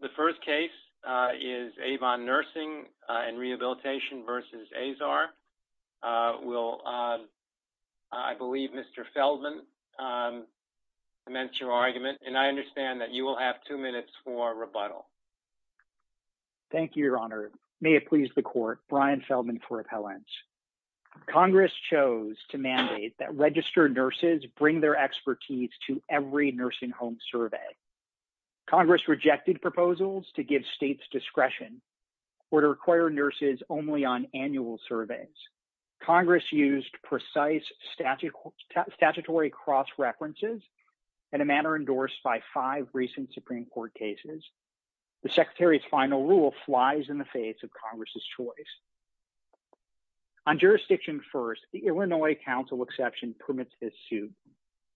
The first case is Avon Nursing and Rehabilitation v. Azar. I believe Mr. Feldman commenced your argument, and I understand that you will have two minutes for rebuttal. Thank you, Your Honor. May it please the Court, Brian Feldman for appellants. Congress chose to mandate that registered nurses bring their expertise to every nursing home survey. Congress rejected proposals to give states discretion or to require nurses only on annual surveys. Congress used precise statutory cross-references in a manner endorsed by five recent Supreme Court cases. The Secretary's final rule flies in the face of Congress's choice. On Jurisdiction First, the Illinois counsel exception permits this suit,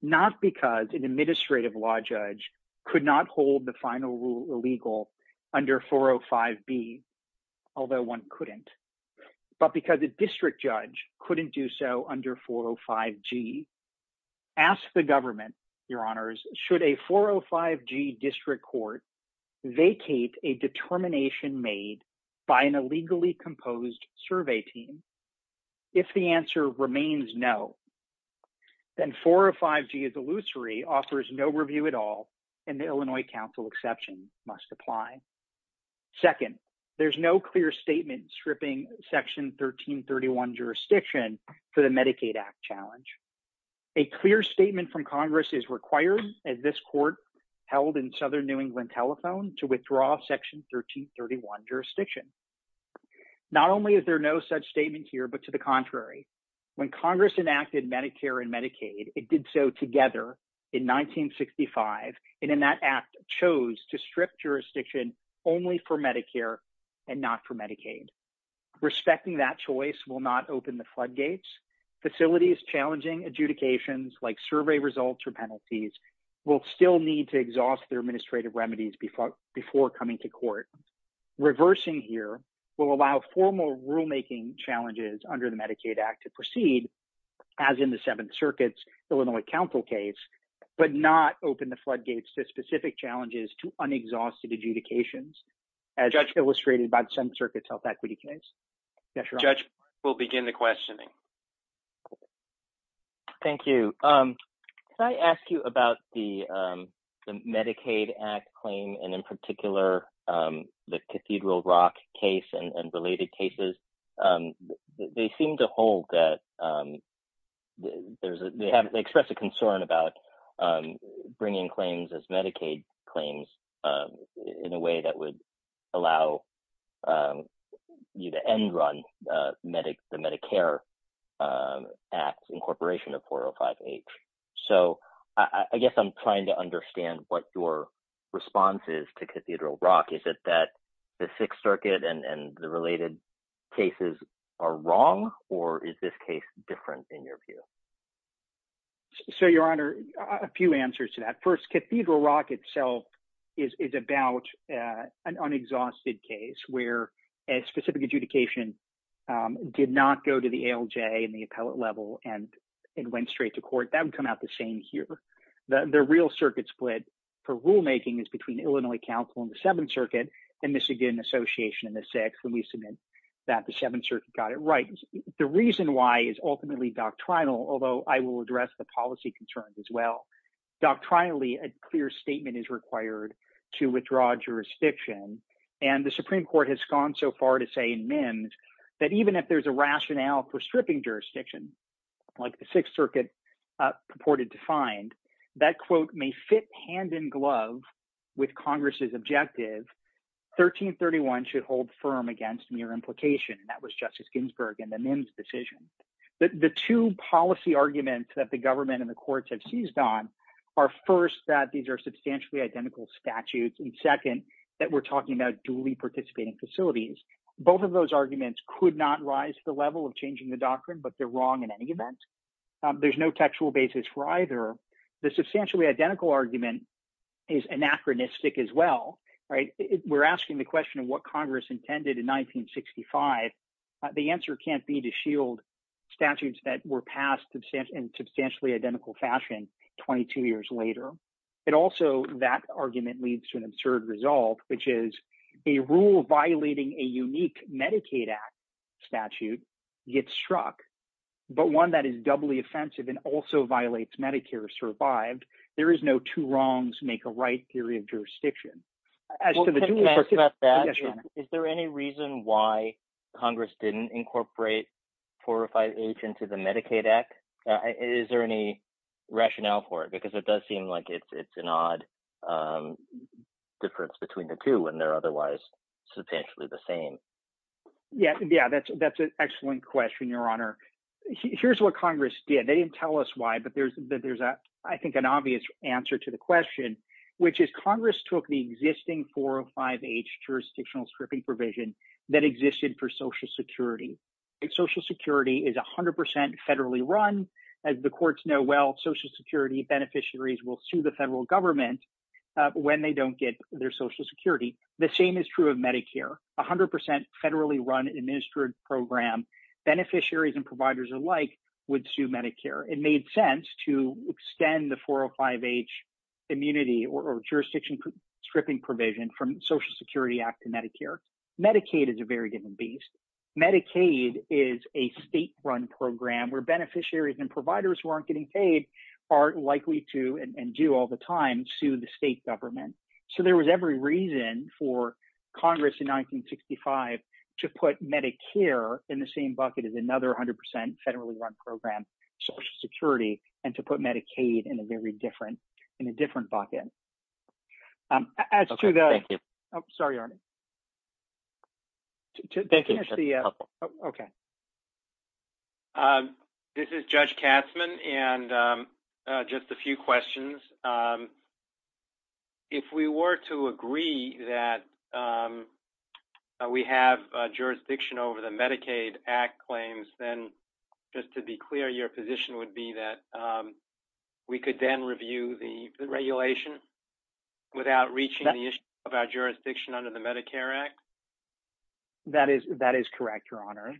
not because an administrative law judge could not hold the final rule illegal under 405B, although one couldn't, but because a district judge couldn't do so under 405G. Ask the government, Your Honors, should a 405G district court vacate a determination made by an illegally composed survey team? If the answer remains no, then 405G is illusory, offers no review at all, and the Illinois counsel exception must apply. Second, there's no clear statement stripping Section 1331 jurisdiction for the Medicaid Act challenge. A clear statement from Congress is required, as this Court held in Southern New England Telephone, to withdraw Section 1331 jurisdiction. Not only is there no such statement here, but to the contrary, when Congress enacted Medicare and Medicaid, it did so together in 1965, and in that act chose to strip jurisdiction only for Medicare and not for Medicaid. Respecting that choice will not open the floodgates. Facilities challenging adjudications, like survey results or penalties, will still need to exhaust their administrative remedies before coming to court. Reversing here will allow formal rulemaking challenges under the Medicaid Act to proceed, as in the Seventh Circuit's Illinois counsel case, but not open the floodgates to specific challenges to unexhausted adjudications, as illustrated by the Seventh Circuit's health equity case. Judge, we'll begin the questioning. Thank you. Can I ask you about the Medicaid Act claim, and in particular, the Cathedral Rock case and related cases? They seem to hold that, they express a concern about bringing claims as Medicaid claims in a way that would allow you to end-run the Medicare Act incorporation of 405H. So, I guess I'm trying to understand what your response is to Cathedral Rock. Is it that the Sixth Circuit and the related cases are wrong, or is this case different in your view? So, Your Honor, a few answers to that. First, Cathedral Rock itself is about an unexhausted case where a specific adjudication did not go to the ALJ and the appellate level and went straight to court. That would come out the same here. The real circuit split for rulemaking is between Illinois counsel and the Seventh Circuit and Michigan Association and the Sixth when we submit that the Seventh Circuit got it right. The reason why is ultimately doctrinal, although I will address the policy concerns as well. Doctrinally, a clear statement is required to withdraw jurisdiction, and the Supreme Court has gone so far to say in MIMS that even if there's a rationale for stripping jurisdiction, like the Sixth Circuit purported to find, that quote may fit hand-in-glove with Congress's 1331 should hold firm against mere implication, and that was Justice Ginsburg in the MIMS decision. The two policy arguments that the government and the courts have seized on are, first, that these are substantially identical statutes, and second, that we're talking about duly participating facilities. Both of those arguments could not rise to the level of changing the doctrine, but they're wrong in any event. There's no textual basis for either. The substantially identical argument is anachronistic as well. We're asking the question of what Congress intended in 1965. The answer can't be to shield statutes that were passed in substantially identical fashion 22 years later. Also, that argument leads to an absurd result, which is a rule violating a unique Medicaid Act statute gets struck, but one that is doubly offensive and also violates Medicare is survived. There is no two wrongs make a right theory of jurisdiction. Is there any reason why Congress didn't incorporate 405H into the Medicaid Act? Is there any rationale for it? Because it does seem like it's an odd difference between the two when they're otherwise substantially the same. Yeah, that's an excellent question, Your Honor. Here's what Congress did. They didn't tell us why, but there's, I think, an obvious answer to the question, which is Congress took the existing 405H jurisdictional stripping provision that existed for Social Security. Social Security is 100% federally run. As the courts know well, Social Security beneficiaries will sue the federal government when they don't get their Social Security benefits. So beneficiaries and providers alike would sue Medicare. It made sense to extend the 405H immunity or jurisdiction stripping provision from the Social Security Act to Medicare. Medicaid is a very given beast. Medicaid is a state-run program where beneficiaries and providers who aren't getting paid are likely to, and do all the time, sue the state government. So there was every reason for Congress in 1965 to put Medicare in the same bucket as another 100% federally run program, Social Security, and to put Medicaid in a very different bucket. As to the... Okay, thank you. Oh, sorry, Arne. Thank you. Okay. This is Judge Katzmann, and just a few questions. If we were to agree that we have jurisdiction over the Medicaid Act claims, then just to be clear, your position would be that we could then review the regulation without reaching the issue of our jurisdiction under the Medicare Act? That is correct, Your Honor.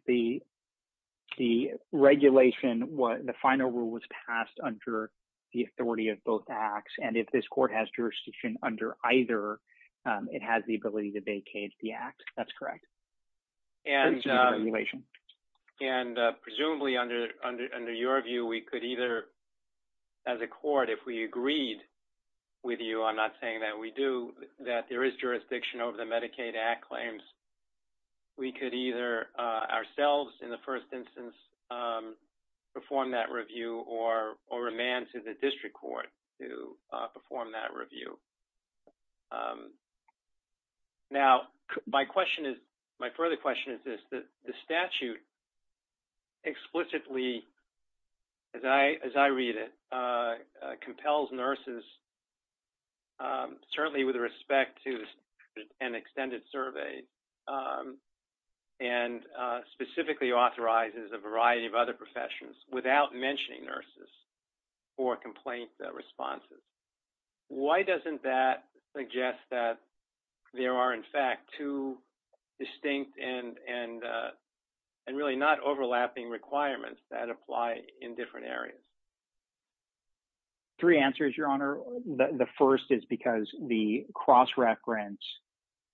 The regulation, the final rule was passed under the authority of both Acts, and if this court has jurisdiction under either, it has the ability to vacate the Act. That's correct. And presumably under your view, we could either, as a court, if we agreed with you, I'm not saying that we do, that there is jurisdiction over the Medicaid Act claims, we could either ourselves in the first instance perform that review or remand to the district court to perform that review. Now, my question is, my further question is this, that the statute explicitly, as I read it, compels nurses, certainly with respect to an extended survey, and specifically authorizes a variety of other professions without mentioning nurses for complaint responses. Why doesn't that suggest that there are, in fact, two distinct and really not overlapping requirements that apply in different areas? Three answers, Your Honor. The first is because the cross-reference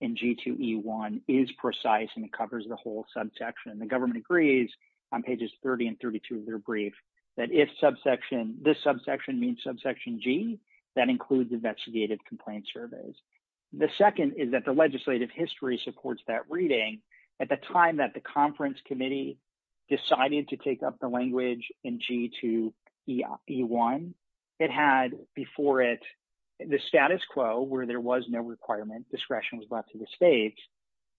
in G2E1 is precise and covers the whole subsection. The government agrees on pages 30 and 32 of their brief that if subsection, this subsection means subsection G, that includes investigative complaint surveys. The second is that the legislative history supports that reading. At the time that the conference committee decided to take up the language in G2E1, it had before it the status quo where there was no requirement, discretion was left to the states,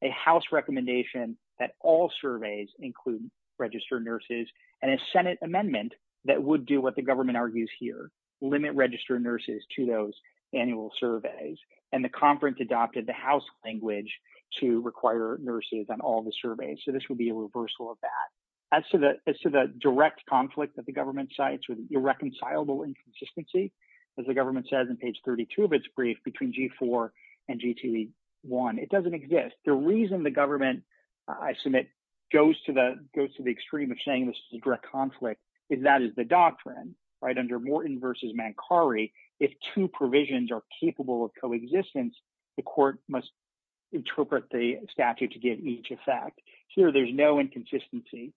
a House recommendation that all surveys include registered nurses and a Senate amendment that would do what the government argues here, limit registered nurses to those annual surveys, and the conference adopted the House language to require nurses on all the surveys, so this would be a reversal of that. As to the direct conflict that the government cites with irreconcilable inconsistency, as the government says in page 32 of its brief, between G4 and G2E1, it doesn't exist. The reason the government, I submit, goes to the extreme of saying this is a direct conflict is that is the doctrine, under Morton v. Mancari, if two provisions are capable of coexistence, the court must interpret the statute to give each effect. Here there's no inconsistency.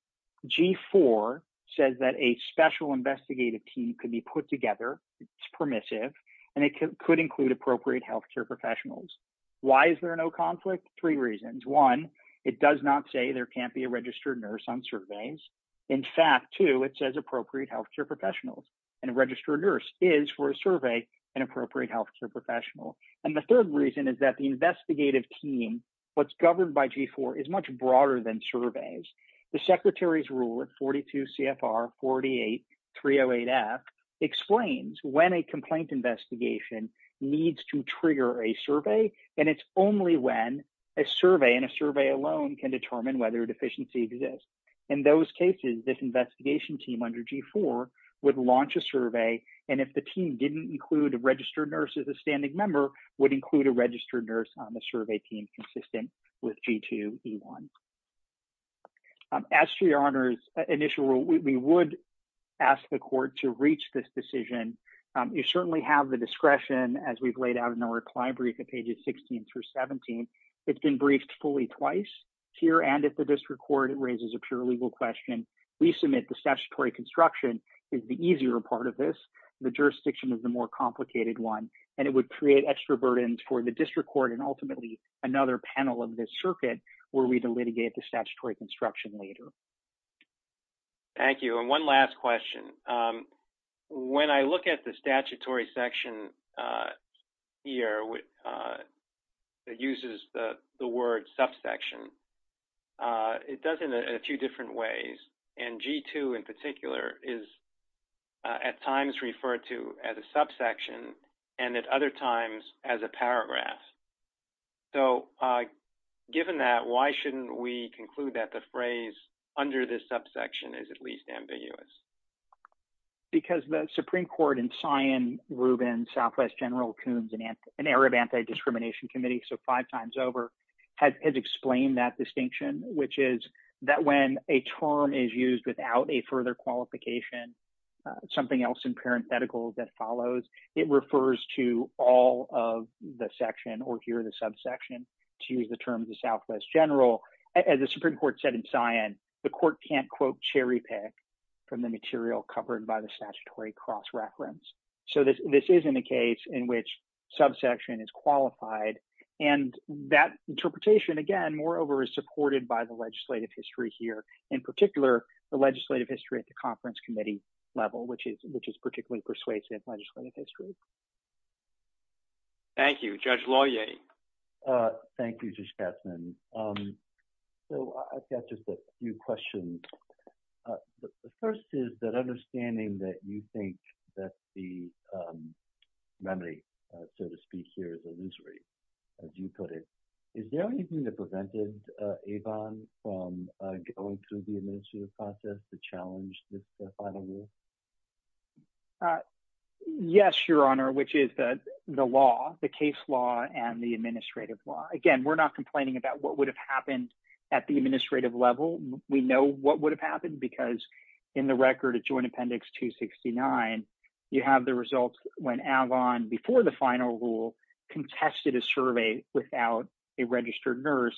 G4 says that a special investigative team could be put together, it's permissive, and it could include appropriate healthcare professionals. Why is there no conflict? Three reasons. One, it does not say there can't be a registered nurse on surveys. In fact, two, it says appropriate healthcare professionals, and a registered nurse is, for a survey, an appropriate healthcare professional. And the third reason is that the investigative team, what's governed by G4, is much broader than surveys. The Secretary's Rule of 42 CFR 48-308F explains when a complaint investigation needs to trigger a survey, and it's only when a survey and a survey alone can determine whether a deficiency exists. In those cases, this investigation team under G4 would launch a survey, and if the team didn't include a registered nurse as a standing member, would include a registered nurse on the survey team consistent with G2E1. As to your Honor's initial rule, we would ask the court to reach this decision. You certainly have the discretion, as we've laid out in the reply brief at pages 16 through 17. It's been briefed fully twice. Here and at the district court, it raises a pure legal question. We submit the statutory construction is the easier part of this. The jurisdiction is the more complicated one, and it would create extra burdens for the district court and ultimately another panel of this circuit were we to litigate the statutory construction later. Thank you. And one last question. When I look at the statutory section here, it uses the word subsection. It does it in a few different ways, and G2 in particular is at times referred to as a subsection and at other times as a paragraph. So given that, why shouldn't we conclude that the phrase under this subsection is at least ambiguous? Because the Supreme Court in Sion, Rubin, Southwest General Coons, an area of anti-discrimination committee, so five times over, has explained that distinction, which is that when a term is used without a further qualification, something else in parenthetical that follows, it refers to all of the section or here the subsection to use the terms of Southwest General. As the Supreme Court said in Sion, the court can't quote cherry pick from the material covered by the statutory cross reference. So this isn't a case in which subsection is qualified. And that interpretation, again, moreover, is supported by the legislative history here, in particular, the legislative history at the conference committee level, which is which is particularly persuasive legislative history. Thank you. Judge Loyer. Thank you, Judge Katzmann. So I've got just a few questions. The first is that understanding that you think that the remedy, so to speak, here is illusory, as you put it. Is there anything that prevented Avon from going through the administrative process to challenge this final rule? Yes, Your Honor, which is the law, the case law and the administrative law. Again, we're not complaining about what would have happened at the administrative level. We know what would have happened because in the record of Joint Appendix 269, you have the results when Avon, before the final rule, contested a survey without a registered nurse.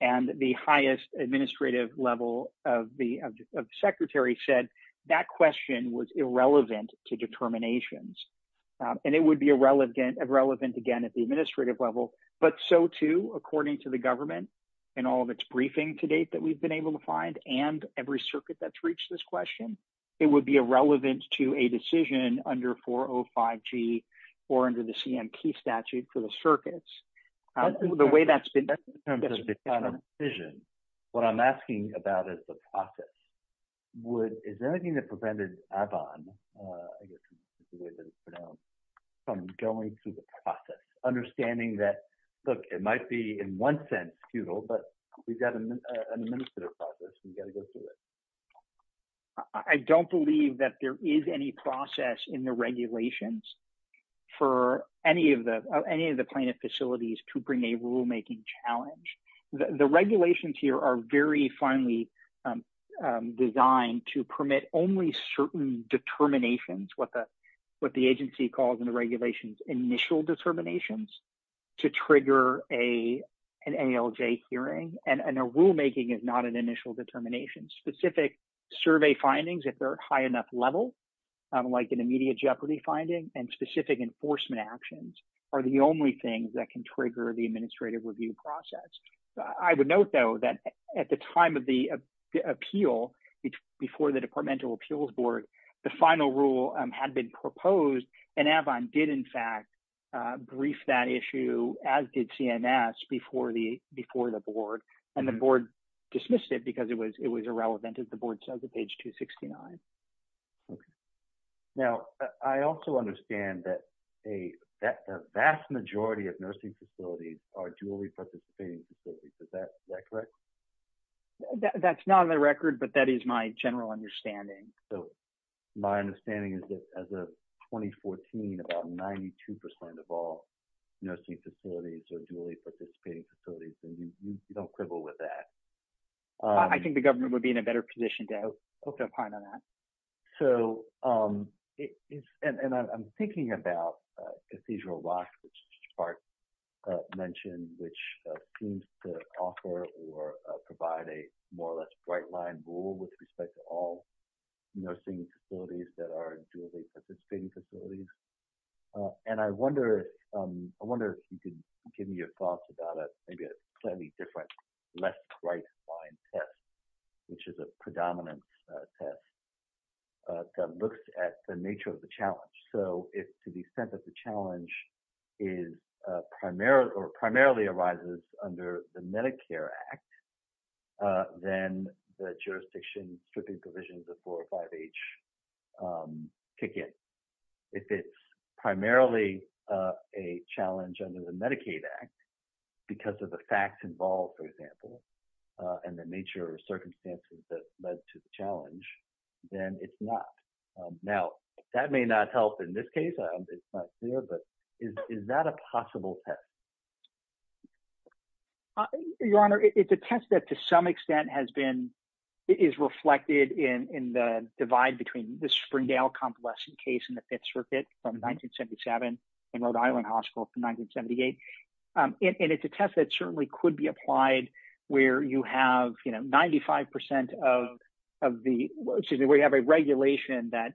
And the highest administrative level of the Secretary said that question was irrelevant to determinations. And it would be irrelevant, again, at the administrative level. But so, too, according to the government and all of its briefing to date that we've been able to find and every circuit that's reached this question, it would be irrelevant to a decision under 405G or under the I'm asking about is the process. Is there anything that prevented Avon from going through the process? Understanding that, look, it might be in one sense futile, but we've got an administrative process. We've got to go through it. I don't believe that there is any process in the regulations for any of the plaintiff facilities to bring a rulemaking challenge. The regulations here are very finely designed to permit only certain determinations, what the agency calls in the regulations initial determinations, to trigger an ALJ hearing. And a rulemaking is not an initial determination. Specific survey findings, if they're high enough level, like an immediate jeopardy finding and specific enforcement actions are the only things that can trigger the administrative review process. I would note, though, that at the time of the appeal, before the departmental appeals board, the final rule had been proposed and Avon did, in fact, brief that issue as did CNS before the board. And the board dismissed it because it was irrelevant, as the board says, at page 269. Okay. Now, I also understand that a vast majority of nursing facilities are dually participating facilities. Is that correct? That's not on the record, but that is my general understanding. So my understanding is that as of 2014, about 92% of all nursing facilities are dually participating facilities, and we don't quibble with that. I think the government would be in a better position to have a say on that. So, and I'm thinking about Cathedral Rock, which Spark mentioned, which seems to offer or provide a more or less bright line rule with respect to all nursing facilities that are dually participating facilities. And I wonder if you could give me your thoughts about maybe a different less bright line test, which is a predominant test that looks at the nature of the challenge. So if to the extent that the challenge is primarily or primarily arises under the Medicare Act, then the jurisdiction stripping provisions of 4 or 5H ticket, if it's primarily a challenge under the Medicaid Act, because of the facts involved, for example, and the nature of circumstances that led to the challenge, then it's not. Now, that may not help in this case, it's not clear, but is that a possible test? Your Honor, it's a test that to some extent has been, is reflected in the divide between the Springdale compulsory case in the Fifth Circuit from 1977 and Rhode Island Hospital from 1978. And it's a test that certainly could be applied where you have 95% of the, excuse me, where you have a regulation that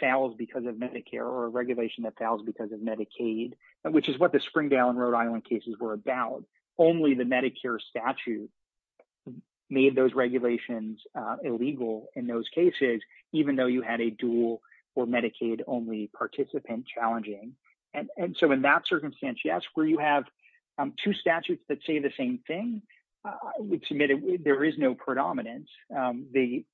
fails because of Medicare or a regulation that fails because of Medicaid, which is what the Springdale and Rhode Island cases were about. Only the Medicare statute made those regulations illegal in those cases, even though you had a dual or Medicaid-only participant challenging. And so in that circumstance, yes, where you have two statutes that say the same thing, I would submit there is no predominance. The,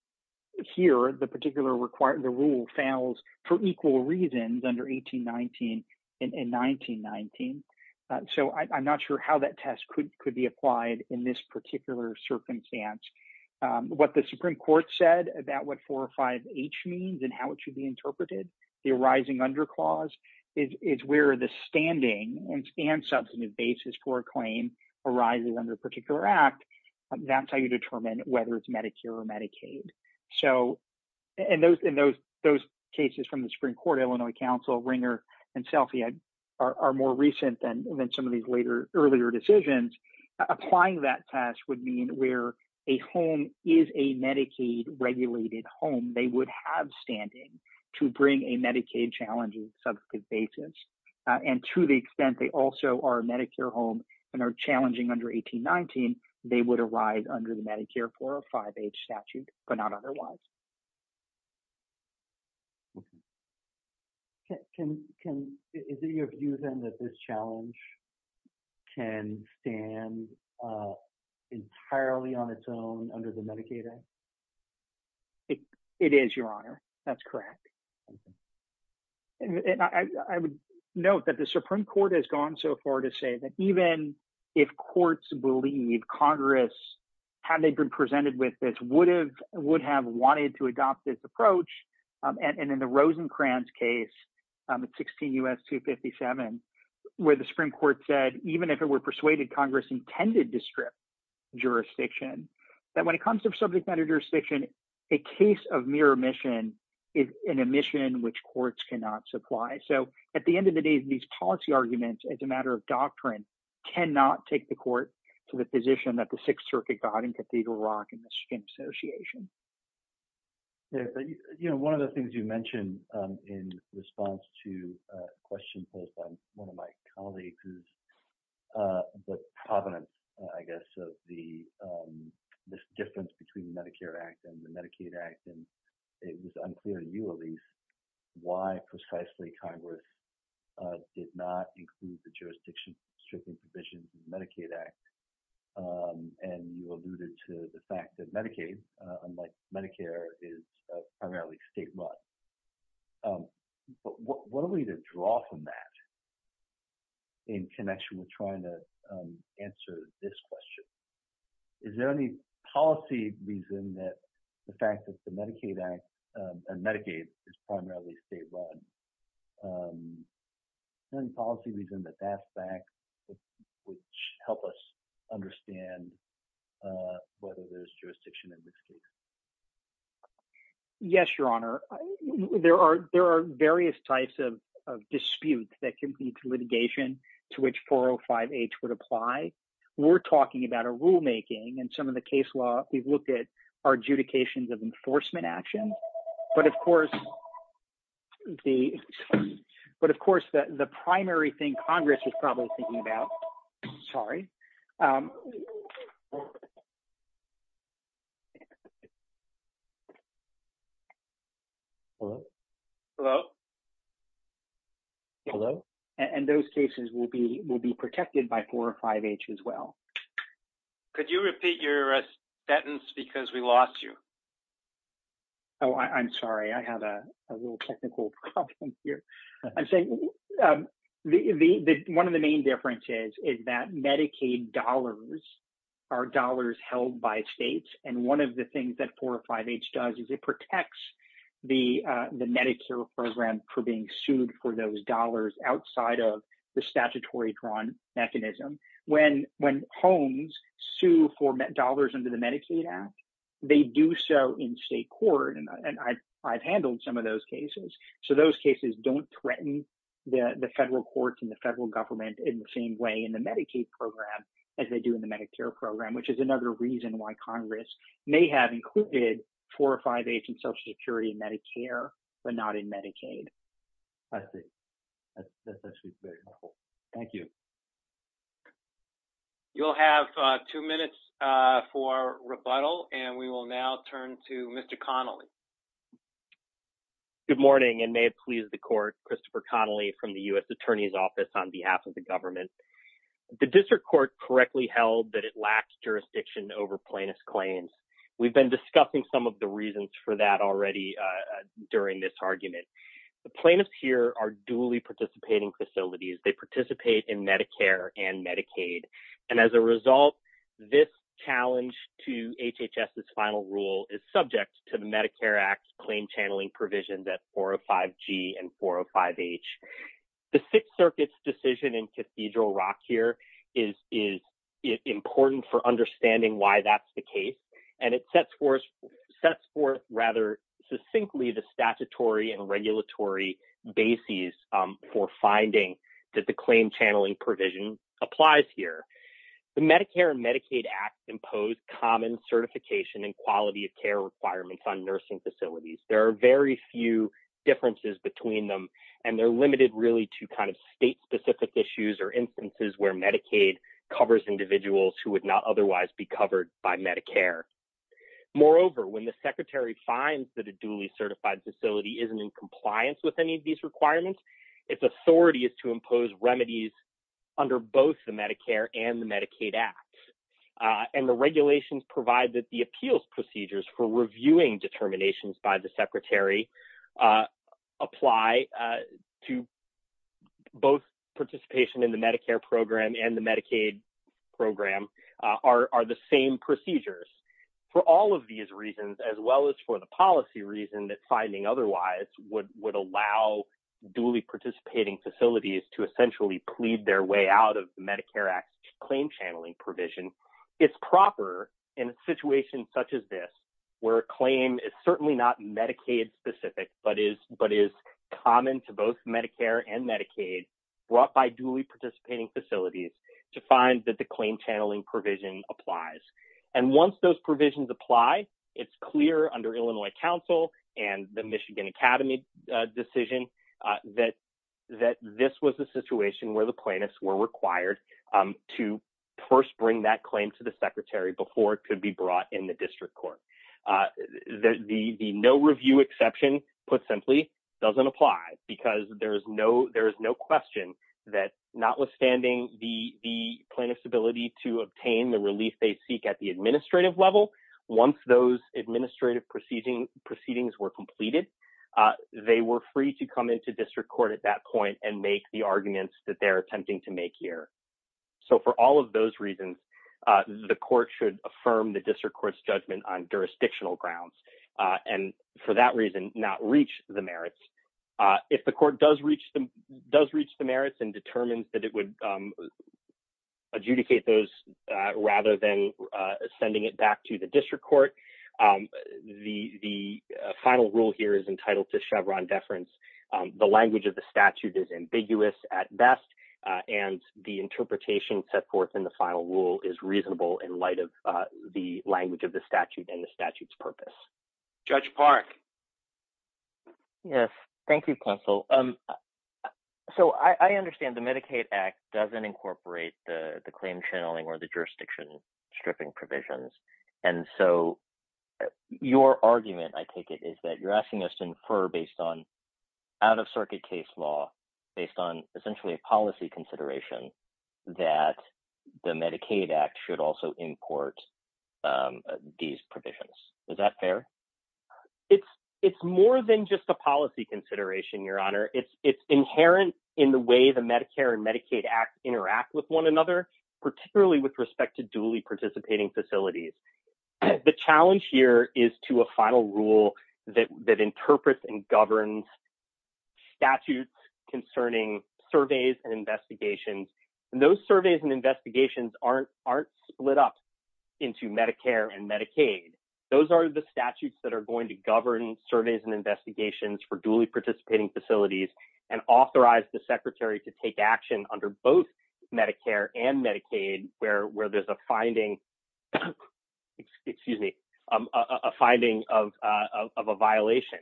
here, the particular rule fails for equal reasons under 1819 and 1919. So I'm not sure how that test could be applied in this particular circumstance. What the Supreme Court said about what 405H means and how it should be interpreted, the arising under clause is where the standing and substantive basis for a claim arises under a particular act. That's how you determine whether it's Medicare or Medicaid. So, and those cases from the Supreme Court, Illinois Council, Ringer and Selphie are more recent than some of these later, earlier decisions. Applying that test would mean where a home is a Medicaid-regulated home. They would have standing to bring a Medicaid challenge on a subsequent basis. And to the extent they also are a Medicare home and are challenging under 1819, they would arise under the Medicare 405H statute, but not otherwise. Can, can, is it your view then that this challenge can stand entirely on its own under the Medicaid Act? It is, Your Honor. That's correct. And I would note that the Supreme Court has gone so far to say that even if courts believe Congress, had they been presented with this, would have, would have wanted to adopt this approach. And in the Rosencrantz case, 16 U.S. 257, where the Supreme Court said, even if it were persuaded, Congress intended to strip jurisdiction, that when it comes to subject matter jurisdiction, a case of mere omission is an omission which courts cannot supply. So at the end of the day, these policy arguments, as a matter of doctrine, cannot take the court to the position that the Sixth Circuit got in Cathedral Rock and the Skimp Association. Yes. You know, one of the things you mentioned in response to a question posed by one of my colleagues, who's the provident, I guess, of the difference between the Medicare Act and the Medicaid Act, and it was unclear to you, Elise, why precisely Congress did not include the jurisdiction, stripping provisions of the Medicaid Act. And you alluded to the fact that Medicaid, unlike Medicare, is primarily state run. But what are we to draw from that in connection with trying to answer this question? Is there any policy reason that the fact that the Medicaid Act and Medicaid is primarily state run, any policy reason that that's back, which help us understand whether there's jurisdiction in this case? Yes, Your Honor. There are various types of disputes that can lead to litigation to which 405H would apply. We're talking about a rulemaking and some of the case law, we've looked at adjudications of enforcement action. But of course, the primary thing Congress was probably thinking about, sorry. Hello? And those cases will be protected by 405H as well. Could you repeat your sentence because we lost you? Oh, I'm sorry. I have a real technical problem here. I'm saying one of the main differences is that Medicaid dollars are dollars held by states. And one of the things that 405H does is it protects the Medicare program for being sued for those dollars outside of the statutory drawn mechanism. When homes sue for dollars under the Medicaid Act, they do so in state court. And I've handled some of those cases. So those cases don't threaten the federal courts and the federal government in the same way in the Medicaid program as they do in the Medicare program, which is another reason why Congress may have included 405H in Social Security and Medicare but not in Medicaid. I see. That's actually very helpful. Thank you. You'll have two minutes for rebuttal and we will now turn to Mr. Connolly. Good morning and may it please the court. Christopher Connolly from the U.S. Attorney's Office on behalf of the government. The district court correctly held that it lacks jurisdiction over plaintiff's claims. We've been discussing some of the reasons for that already during this argument. The plaintiffs here are duly participating facilities. They participate in Medicare and Medicaid. And as a result, this challenge to HHS's final rule is subject to the Medicare Act's claim channeling provisions at 405G and 405H. The Sixth Circuit's decision in Cathedral Rock here is important for understanding why that's the case. And it sets forth rather succinctly the statutory and regulatory bases for finding that the claim channeling provision applies here. The Medicare and Medicaid Act impose common certification and quality of care requirements on nursing facilities. There are very few differences between them and they're limited really to kind of state-specific issues or instances where Medicaid covers individuals who would not otherwise be covered by Medicare. Moreover, when the Secretary finds that a duly certified facility isn't in compliance with any of these requirements, its authority is to impose remedies under both the Medicare and the Medicaid Act. And the regulations provide that the appeals procedures for reviewing determinations by the program are the same procedures. For all of these reasons, as well as for the policy reason that finding otherwise would allow duly participating facilities to essentially plead their way out of the Medicare Act claim channeling provision, it's proper in a situation such as this, where a claim is certainly not Medicaid-specific but is common to both Medicare and Medicaid brought by duly claim channeling provision applies. And once those provisions apply, it's clear under Illinois Council and the Michigan Academy decision that this was the situation where the plaintiffs were required to first bring that claim to the Secretary before it could be brought in the District Court. The no review exception, put simply, doesn't apply because there is no question that notwithstanding the plaintiff's ability to obtain the relief they seek at the administrative level, once those administrative proceedings were completed, they were free to come into District Court at that point and make the arguments that they're attempting to make here. So, for all of those reasons, the court should affirm the District Court's judgment on jurisdictional grounds and, for that reason, not reach the merits. If the court does reach the merits and determines that it would adjudicate those rather than sending it back to the District Court, the final rule here is entitled to Chevron deference. The language of the statute is ambiguous at best, and the interpretation set forth in the final rule is reasonable in light of the language of the statute and the statute's purpose. Judge Park. Yes. Thank you, Counsel. So, I understand the Medicaid Act doesn't incorporate the claim channeling or the jurisdiction stripping provisions, and so your argument, I take it, is that you're asking us to infer based on out-of-circuit case law, based on essentially a policy consideration, that the Medicaid Act should also import these provisions. Is that fair? It's more than just a policy consideration, Your Honor. It's inherent in the way the Medicare and Medicaid Act interact with one another, particularly with respect to duly participating facilities. The challenge here is to a final rule that interprets and governs statutes concerning surveys and investigations. Those surveys and investigations aren't split up into Medicare and Medicaid. Those are the statutes that are going to govern surveys and investigations for duly participating facilities and authorize the Secretary to take action under both Medicare and Medicaid where there's a finding of a violation.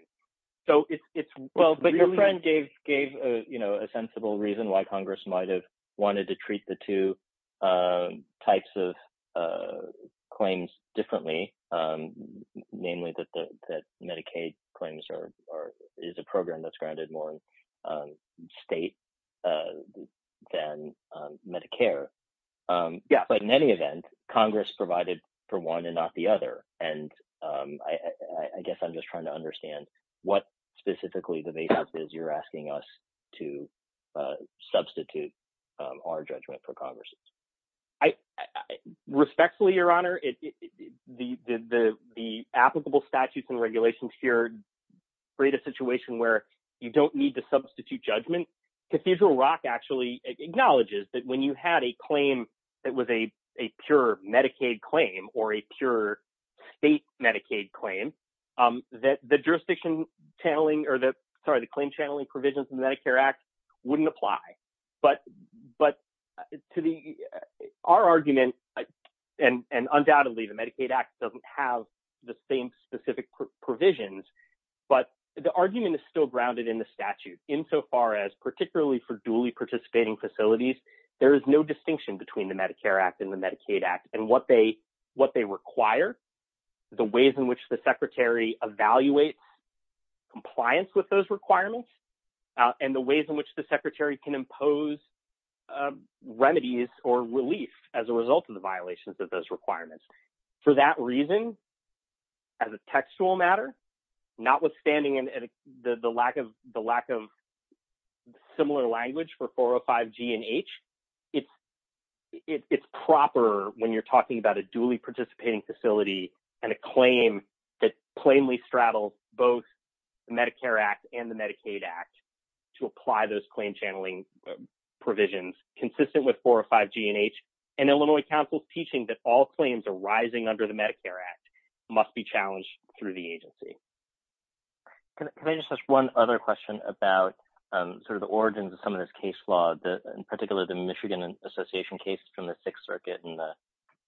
But your friend gave a sensible reason why Congress might have wanted to treat the two types of claims differently, namely that Medicaid claims is a program that's grounded more in state than Medicare. But in any event, Congress provided for one and not the other, and I guess I'm just trying to understand what specifically the basis is you're asking us to substitute our judgment for Congress's. Respectfully, Your Honor, the applicable statutes and regulations here create a situation where you don't need to substitute judgment. Cathedral Rock actually acknowledges that when you had a claim that was a pure Medicaid claim or a pure state Medicaid claim, the jurisdiction channeling or the claim channeling provisions in the Medicare Act wouldn't apply. But our argument, and undoubtedly the Medicaid Act doesn't have the same specific provisions, but the argument is still grounded in the statute insofar as particularly for duly participating facilities, there is no distinction between the Medicare Act and the Medicaid Act and what they require, the ways in which the Secretary evaluates compliance with those requirements, and the ways in which the Secretary can impose remedies or relief as a result of the violations of those requirements. For that reason, as a textual matter, notwithstanding the lack of similar language for 405 G and H, it's proper when you're talking about a duly participating facility and a claim that plainly straddles both the Medicare Act and the Medicaid Act to apply those claim channeling provisions consistent with 405 G and H, and Illinois Council's teaching that all claims arising under the Medicare Act must be challenged through the agency. Can I just ask one other question about sort of the origins of some of this case law, in particular the Michigan Association case from the Sixth Circuit and the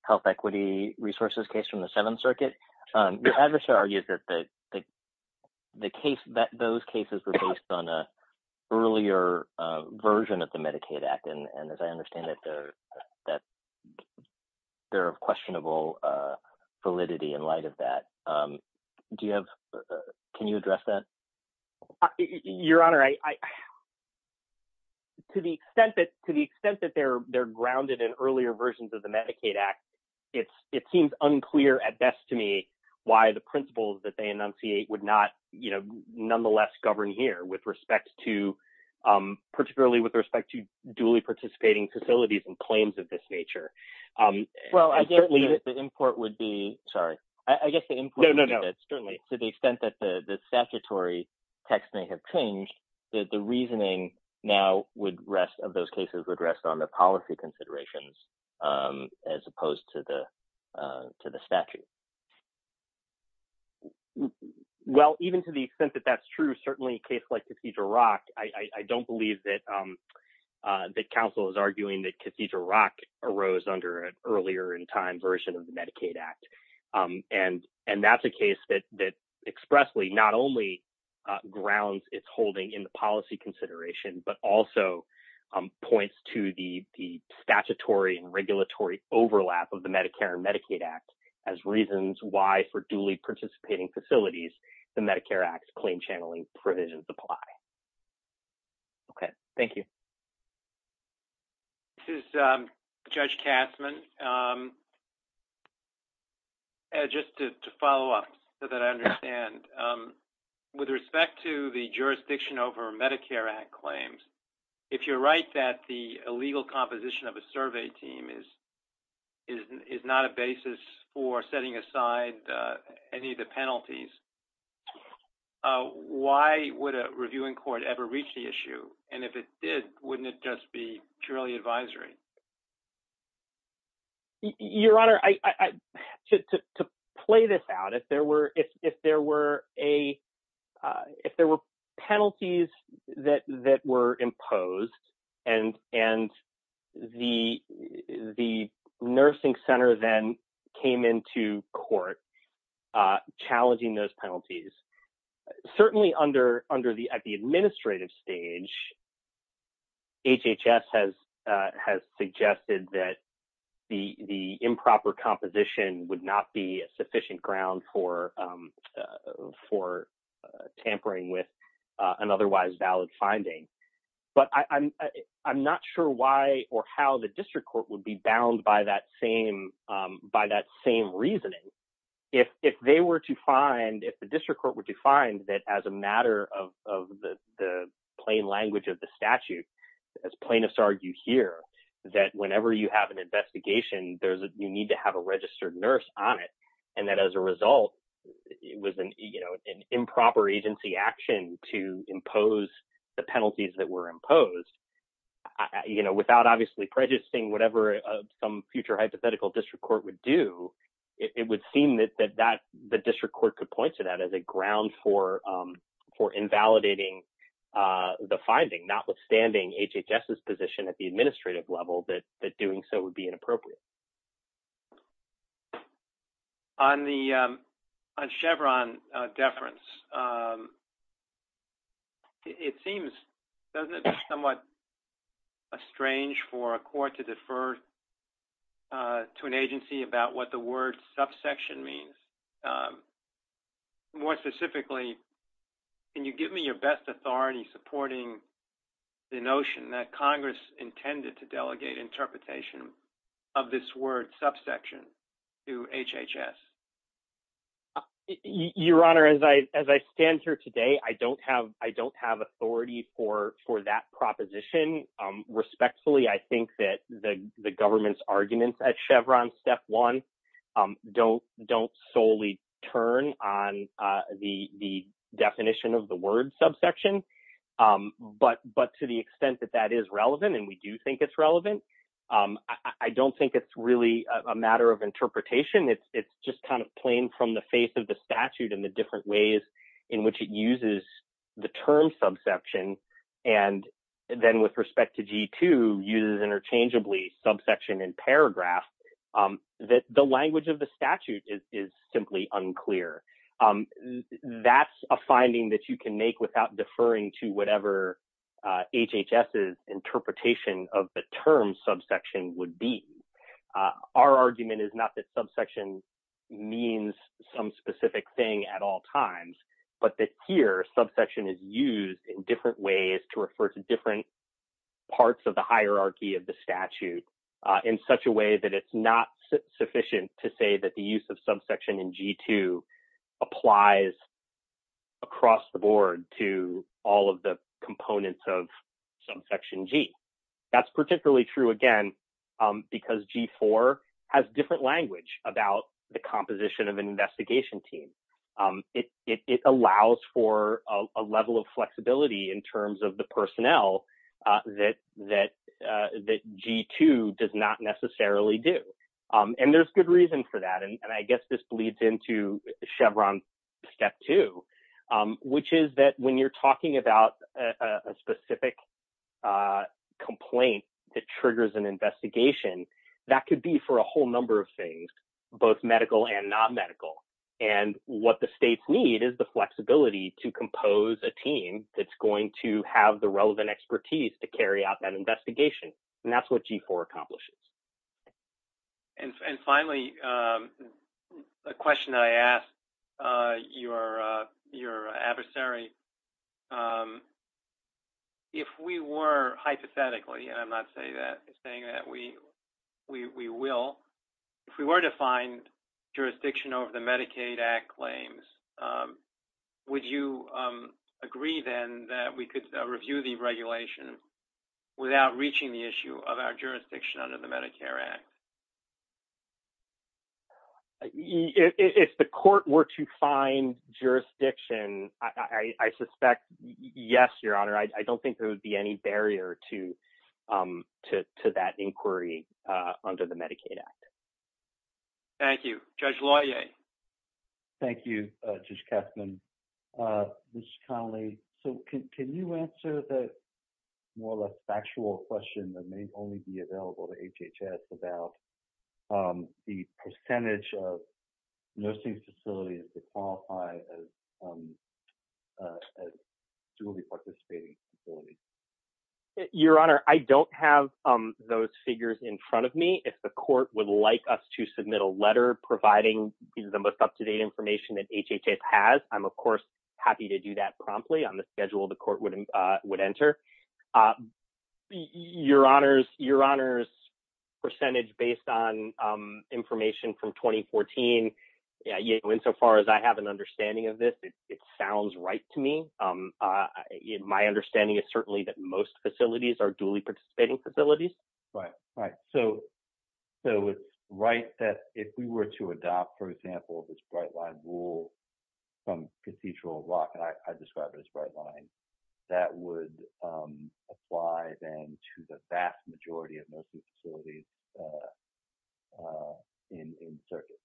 health equity resources case from the Seventh Circuit? Your adversary argues that those cases were based on an earlier version of the Medicaid Act, and as I understand it, that they're of questionable validity in light of that. Can you address that? Your Honor, to the extent that they're grounded in earlier versions of the Medicaid Act, it seems unclear at best to me why the principles that they enunciate would not nonetheless govern here, particularly with respect to duly participating facilities and claims of this nature. Well, I guess the import would be that to the extent that the statutory text may have changed, the reasoning now of those cases would rest on the policy considerations as opposed to the statute. Well, even to the extent that that's true, certainly a case like Cathedral Rock, I don't believe that counsel is arguing that Cathedral Rock arose under an earlier in time version of the Medicaid Act. And that's a case that expressly not only grounds its holding in the policy consideration, but also points to the statutory and regulatory overlap of the Medicare and Medicaid Act as reasons why for duly participating facilities, the Medicare Act claim channeling provisions apply. Okay. Thank you. This is Judge Kastman. Just to follow up so that I understand, with respect to the jurisdiction over Medicare Act claims, if you're right that the illegal composition of a survey team is not a basis for setting aside any of the penalties, why would a reviewing court ever reach the issue? And if it did, wouldn't it just be purely advisory? Your Honor, to play this out, if there were penalties that were imposed and the nursing center then came into court challenging those penalties, certainly at the administrative stage, HHS has suggested that the improper composition would not be sufficient ground for tampering with an otherwise valid finding. But I'm not sure why or how the district court would bound by that same reasoning. If they were to find, if the district court were to find that as a matter of the plain language of the statute, as plaintiffs argue here, that whenever you have an investigation, you need to have a registered nurse on it. And that as a result, it was an improper agency action to impose the penalties that were imposed without obviously prejudicing whatever some future hypothetical district court would do. It would seem that the district court could point to that as a ground for invalidating the finding, notwithstanding HHS's position at the administrative level that doing so would be inappropriate. On the Chevron deference, it seems somewhat strange for a court to defer to an agency about what the word subsection means. More specifically, can you give me your best authority supporting the notion that Congress intended to delegate interpretation of this word subsection to HHS? Your Honor, as I stand here today, I don't have authority for that proposition. Respectfully, I think that the government's arguments at Chevron step one don't solely turn on the definition of the word subsection. But to the extent that that is relevant, and we do think it's relevant, I don't think it's really a matter of interpretation. It's just kind of plain from the face of the statute and the different ways in which it uses the term subsection. And then with respect to G2, uses interchangeably subsection and paragraph, the language of the statute is simply unclear. That's a finding that you can make without deferring to whatever HHS's interpretation of the term subsection would be. Our argument is not that subsection means some specific thing at all times, but that here subsection is used in different ways to refer to different parts of the hierarchy of the statute in such a way that it's not sufficient to say that the use of subsection in G2 applies across the board to all of the components of subsection G. That's particularly true, again, because G4 has different language about the composition of an investigation team. It allows for a level of flexibility in terms of the personnel that G2 does not necessarily do. And there's good reason for that. And I guess this bleeds into Chevron Step 2, which is that when you're talking about a specific complaint that triggers an investigation, that could be for a whole number of things, both medical and non-medical. And what the states need is the flexibility to compose a team that's going to have the relevant expertise to carry out that investigation. And that's what G4 accomplishes. And finally, a question that I asked your adversary, if we were, hypothetically, and I'm not saying that we will, if we were to find jurisdiction over the Medicaid Act claims, would you agree then that we could review the regulation without reaching the issue of our jurisdiction under the Medicare Act? If the court were to find jurisdiction, I suspect, yes, your honor. I don't think there would be any barrier to that inquiry under the Medicaid Act. Thank you. Judge Laue. Thank you, Judge Kessler. And Ms. Connolly, so can you answer the more or less factual question that may only be available to HHS about the percentage of nursing facilities that qualify as duly participating facilities? Your honor, I don't have those figures in front of me. If the court would like us to submit a happy to do that promptly on the schedule the court would enter. Your honor's percentage based on information from 2014, insofar as I have an understanding of this, it sounds right to me. My understanding is certainly that most facilities are duly participating facilities. Right, right. So it's right that if we were to adopt, for example, this bright line rule from Cathedral Rock, and I described it as bright line, that would apply then to the vast majority of nursing facilities in the circuit.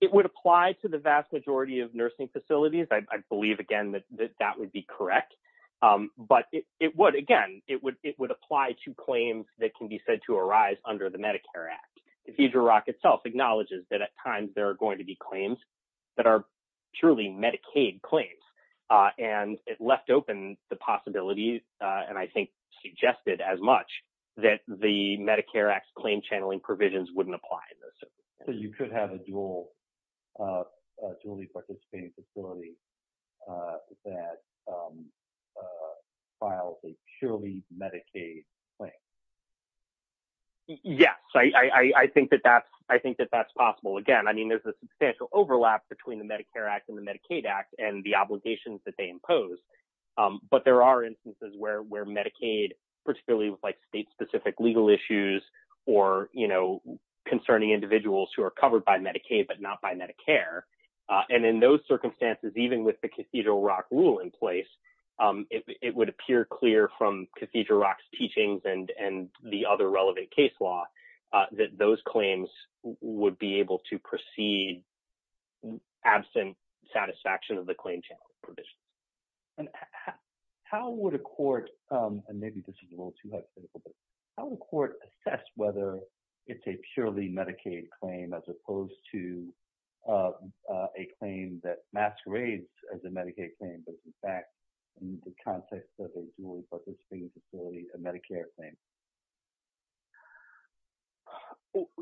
It would apply to the vast majority of nursing facilities. I believe again that that would be correct. But it would, again, it would apply to claims that can be said to arise under the Medicare Act. Cathedral Rock itself acknowledges that at times there are going to be claims that are purely Medicaid claims. And it left open the possibility, and I think suggested as much, that the Medicare Act's claim channeling provisions wouldn't apply. So you could have a duly participating facility that files a purely Medicaid claim. Yes, I think that that's possible. Again, I mean, there's a substantial overlap between the Medicare Act and the Medicaid Act and the obligations that they impose. But there are instances where Medicaid, particularly with state-specific legal issues, or concerning individuals who are covered by Medicaid but not by Medicare, and in those circumstances, even with the Cathedral Rock rule in place, it would appear clear from Cathedral Rock's teachings and the other relevant case law that those claims would be able to proceed absent satisfaction of the claim channeling provisions. And how would a court, and maybe this is a little too hypothetical, but how would a court assess whether it's a purely Medicaid claim as opposed to a claim that masquerades as a Medicaid claim, but in fact, in the context of a duly participating facility, a Medicare claim?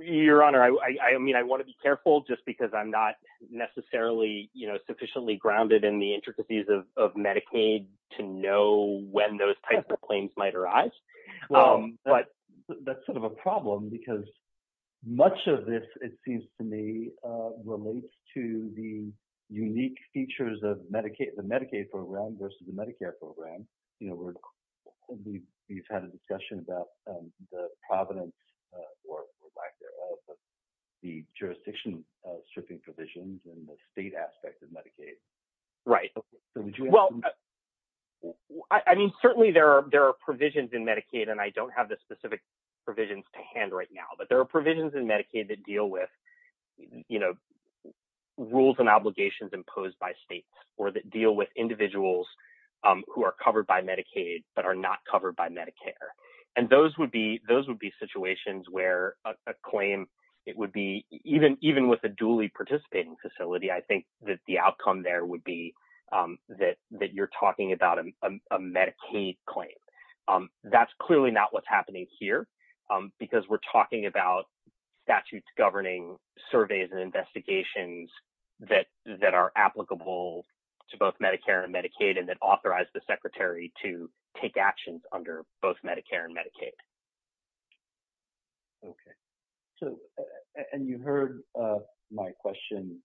Your Honor, I mean, I want to be careful just because I'm not necessarily sufficiently grounded in the intricacies of Medicaid to know when those types of claims might arise. But that's sort of a problem because much of this, it seems to me, relates to the unique features of the Medicaid program versus the Medicare program. You know, we've had a discussion about the providence, or lack thereof, of the jurisdiction stripping provisions in the state aspect of Medicaid. Right. Well, I mean, certainly there are provisions in Medicaid, and I don't have the specific provisions to hand right now, but there are provisions in Medicaid that deal with, you know, rules and obligations imposed by states, or that deal with individuals who are covered by Medicaid but are not covered by Medicare. And those would be situations where a claim, it would be, even with a duly participating facility, I think that the outcome there would be that you're talking about a Medicaid claim. That's clearly not what's happening here, because we're talking about statutes governing surveys and investigations that are applicable to both Medicare and Medicaid, and that authorize the Secretary to take actions under both Medicare and Medicaid. Okay. So, and you heard my question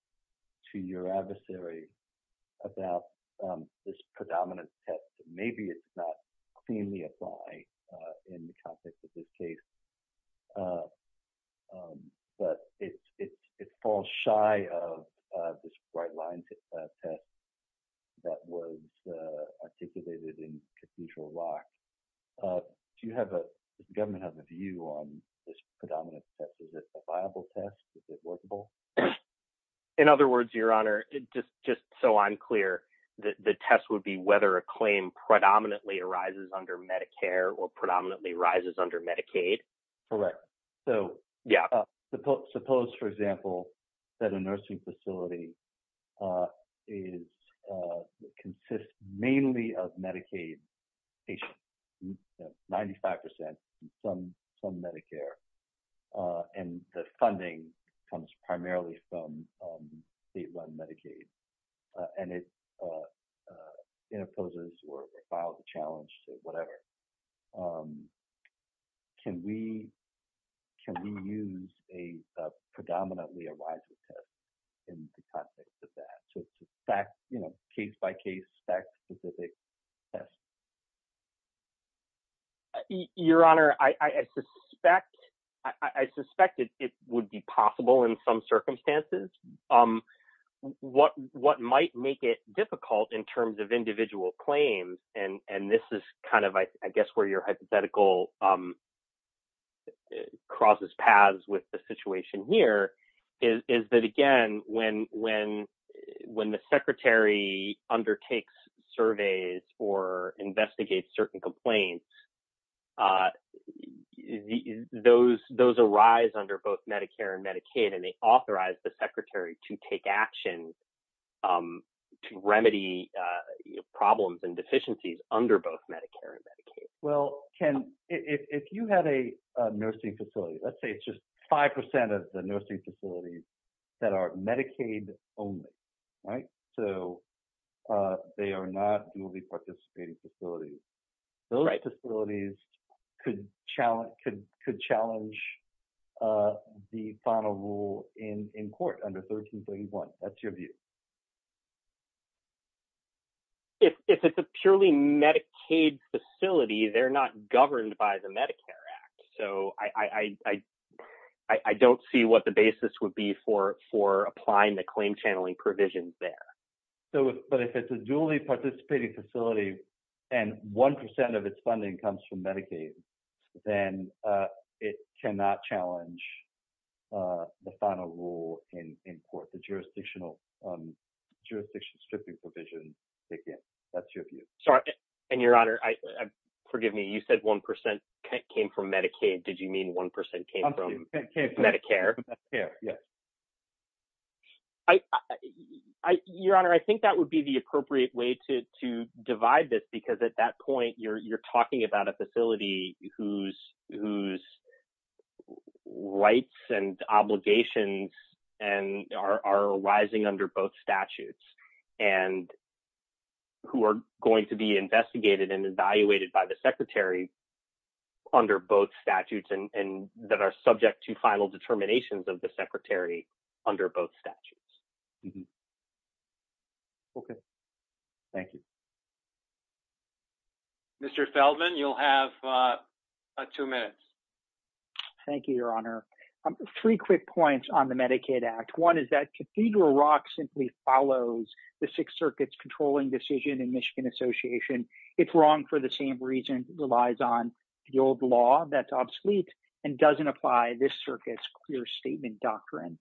to your adversary about this predominance test. Maybe it's not cleanly applied in the context of this case, but it falls shy of this Brightline test that was articulated in Cathedral Rock. Do you have a, does the government have a view on this predominance test? Is it a viable test? Is it workable? In other words, Your Honor, just so I'm clear, the test would be whether a under Medicaid? Correct. So, yeah. Suppose, for example, that a nursing facility is, consists mainly of Medicaid patients, 95% from Medicare, and the funding comes primarily from state-run Medicaid, and it imposes or files a challenge or whatever. Can we use a predominantly a riser test in the context of that? So, it's a fact, you know, case-by-case, fact-specific test? Your Honor, I suspect it would be possible in some what might make it difficult in terms of individual claims, and this is kind of, I guess, where your hypothetical crosses paths with the situation here, is that, again, when the Secretary undertakes surveys or investigates certain complaints, those arise under both Medicare and Medicaid, and they authorize the Secretary to take action to remedy problems and deficiencies under both Medicare and Medicaid. Well, Ken, if you had a nursing facility, let's say it's just 5% of the nursing facilities that are Medicaid-only, right? So, they are not participating facilities. Those facilities could challenge the final rule in court under 1331. That's your view? If it's a purely Medicaid facility, they're not governed by the Medicare Act. So, I don't see what the basis would be for applying the claim-channeling provisions there. So, but if it's a duly-participating facility and 1% of its funding comes from Medicaid, then it cannot challenge the final rule in court, the jurisdictional stripping provision, again. That's your view? Sorry, and Your Honor, forgive me, you said 1% came from Medicaid. Did you mean 1% came from Medicare? Yes. Your Honor, I think that would be the appropriate way to divide this because at that point, you're talking about a facility whose rights and obligations are arising under both statutes and who are going to be investigated and evaluated by the Secretary under both statutes that are subject to final determinations of the Secretary under both statutes. Okay. Thank you. Mr. Feldman, you'll have two minutes. Thank you, Your Honor. Three quick points on the Medicaid Act. One is that Cathedral Rock simply follows the Sixth Circuit's controlling decision in Michigan Association. It's wrong for the same reason it relies on the old law that's obsolete and doesn't apply this circuit's clear statement doctrine.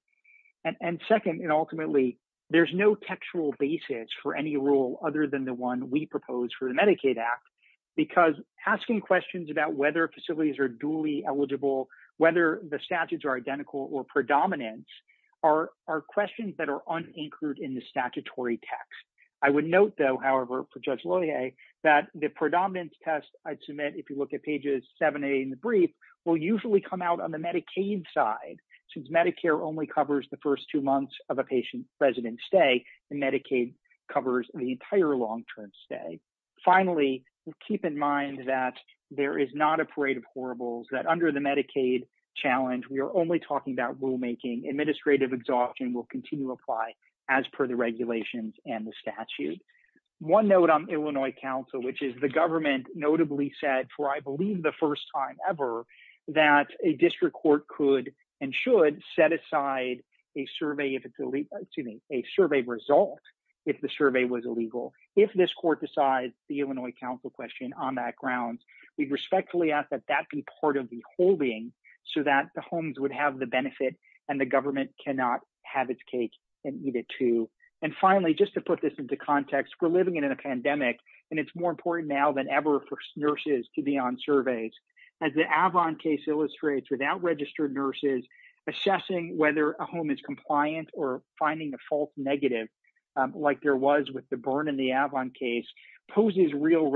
And second, and ultimately, there's no textual basis for any rule other than the one we propose for the Medicaid Act because asking questions about whether facilities are duly eligible, whether the statutes are identical or predominant are questions that are unanchored in statutory text. I would note though, however, for Judge Loyer, that the predominance test I'd submit, if you look at pages 7A in the brief, will usually come out on the Medicaid side since Medicare only covers the first two months of a patient's resident stay and Medicaid covers the entire long-term stay. Finally, keep in mind that there is not a parade of horribles, that under the Medicaid challenge, we are only talking about rulemaking. Administrative exhaustion will continue to apply as per the regulations and the statute. One note on Illinois Council, which is the government notably said, for I believe the first time ever, that a district court could and should set aside a survey result if the survey was illegal. If this court decides the Illinois Council question on that grounds, we respectfully ask that that be part of the holding so that the benefit and the government cannot have its cake and eat it too. And finally, just to put this into context, we're living in a pandemic and it's more important now than ever for nurses to be on surveys. As the Avon case illustrates, without registered nurses, assessing whether a home is compliant or finding a false negative, like there was with the Byrne and the Avon case, poses real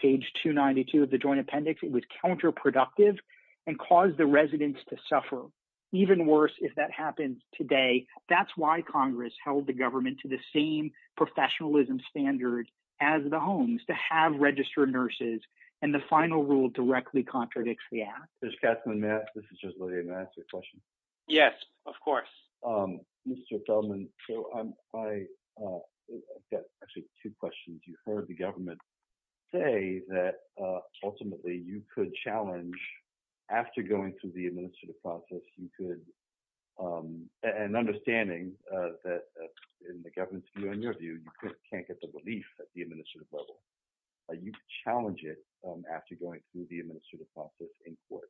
page 292 of the Joint Appendix. It was counterproductive and caused the residents to suffer. Even worse, if that happens today, that's why Congress held the government to the same professionalism standard as the homes, to have registered nurses, and the final rule directly contradicts the act. Judge Katzman, may I? This is Judge Lillian. May I ask you a question? Yes, of course. Mr. Feldman, I've got actually two questions. You heard the government say that ultimately you could challenge, after going through the administrative process, you could, and understanding that in the government's view, in your view, you can't get the relief at the administrative level. You challenge it after going through the administrative process in court.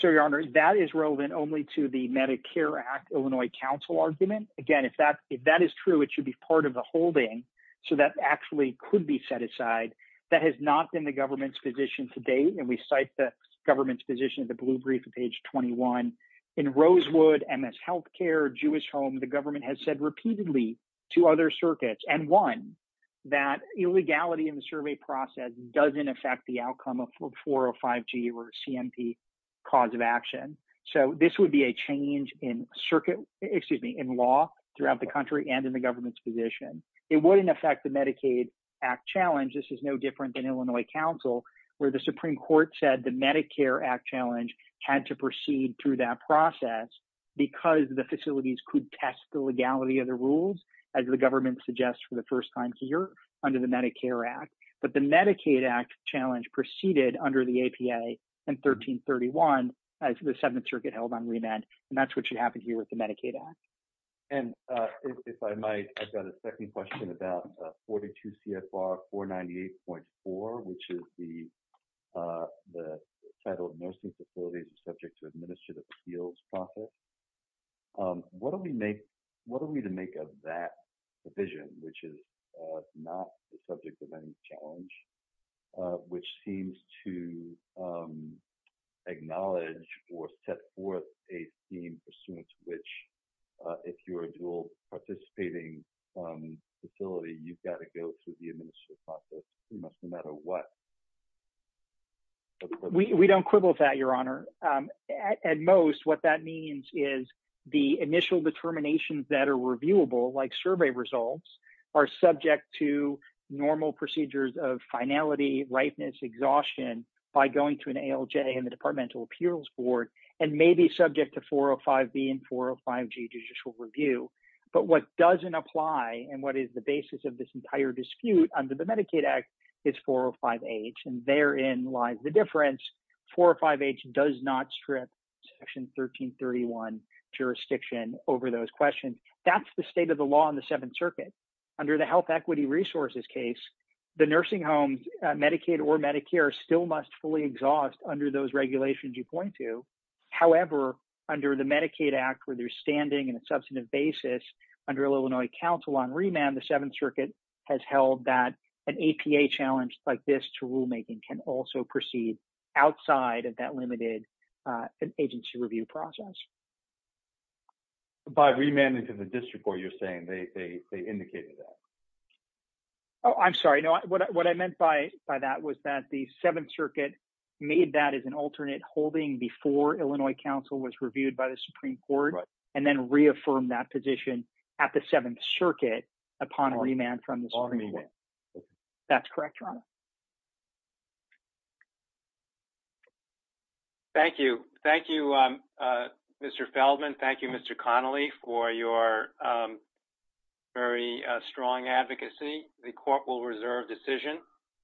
Sir, Your Honor, that is relevant only to the Medicare Act, Illinois Council argument. Again, if that is true, it should be part of the holding, so that actually could be set aside. That has not been the government's position to date, and we cite the government's position in the blue brief on page 21. In Rosewood, MS Health Care, Jewish Home, the government has said repeatedly to other circuits, and one, that illegality in the survey process doesn't affect the outcome of 405G or CMP cause of action. So this would be a change in circuit, excuse me, in law throughout the country and in the government's position. It wouldn't affect the Medicaid Act challenge. This is no different than Illinois Council, where the Supreme Court said the Medicare Act challenge had to proceed through that process because the facilities could test the legality of the rules, as the government suggests for the first time here under the Medicare Act. But the Medicaid Act challenge proceeded under the APA in 1331, as the Seventh Circuit held on remand, and that's what should happen here with the Medicaid Act. And if I might, I've got a second question about 42 CFR 498.4, which is the title of nursing facilities subject to administrative appeals process. What are we to make of that provision, which is not the subject of any challenge, which seems to acknowledge or set forth a theme pursuant to which, if you are a dual participating facility, you've got to go through the administrative process, no matter what? We don't quibble with that, Your Honor. At most, what that means is the initial determinations that are reviewable, like survey results, are subject to normal procedures of finality, ripeness, exhaustion by going to an ALJ and maybe subject to 405B and 405G judicial review. But what doesn't apply and what is the basis of this entire dispute under the Medicaid Act is 405H, and therein lies the difference. 405H does not strip Section 1331 jurisdiction over those questions. That's the state of the law in the Seventh Circuit. Under the health equity resources case, the nursing homes, Medicaid or Medicare, still must fully exhaust under those regulations you point to. However, under the Medicaid Act, where there's standing in a substantive basis under Illinois Council on Remand, the Seventh Circuit has held that an APA challenge like this to rulemaking can also proceed outside of that limited agency review process. By remanding to the district court, you're saying they indicated that? Oh, I'm sorry. No, what I meant by that was that the Seventh Circuit made that as an alternate holding before Illinois Council was reviewed by the Supreme Court and then reaffirmed that position at the Seventh Circuit upon a remand from the Supreme Court. That's correct, Your Honor. Thank you. Thank you, Mr. Feldman. Thank you, Mr. Connolly, for your very strong advocacy. The court will reserve decision.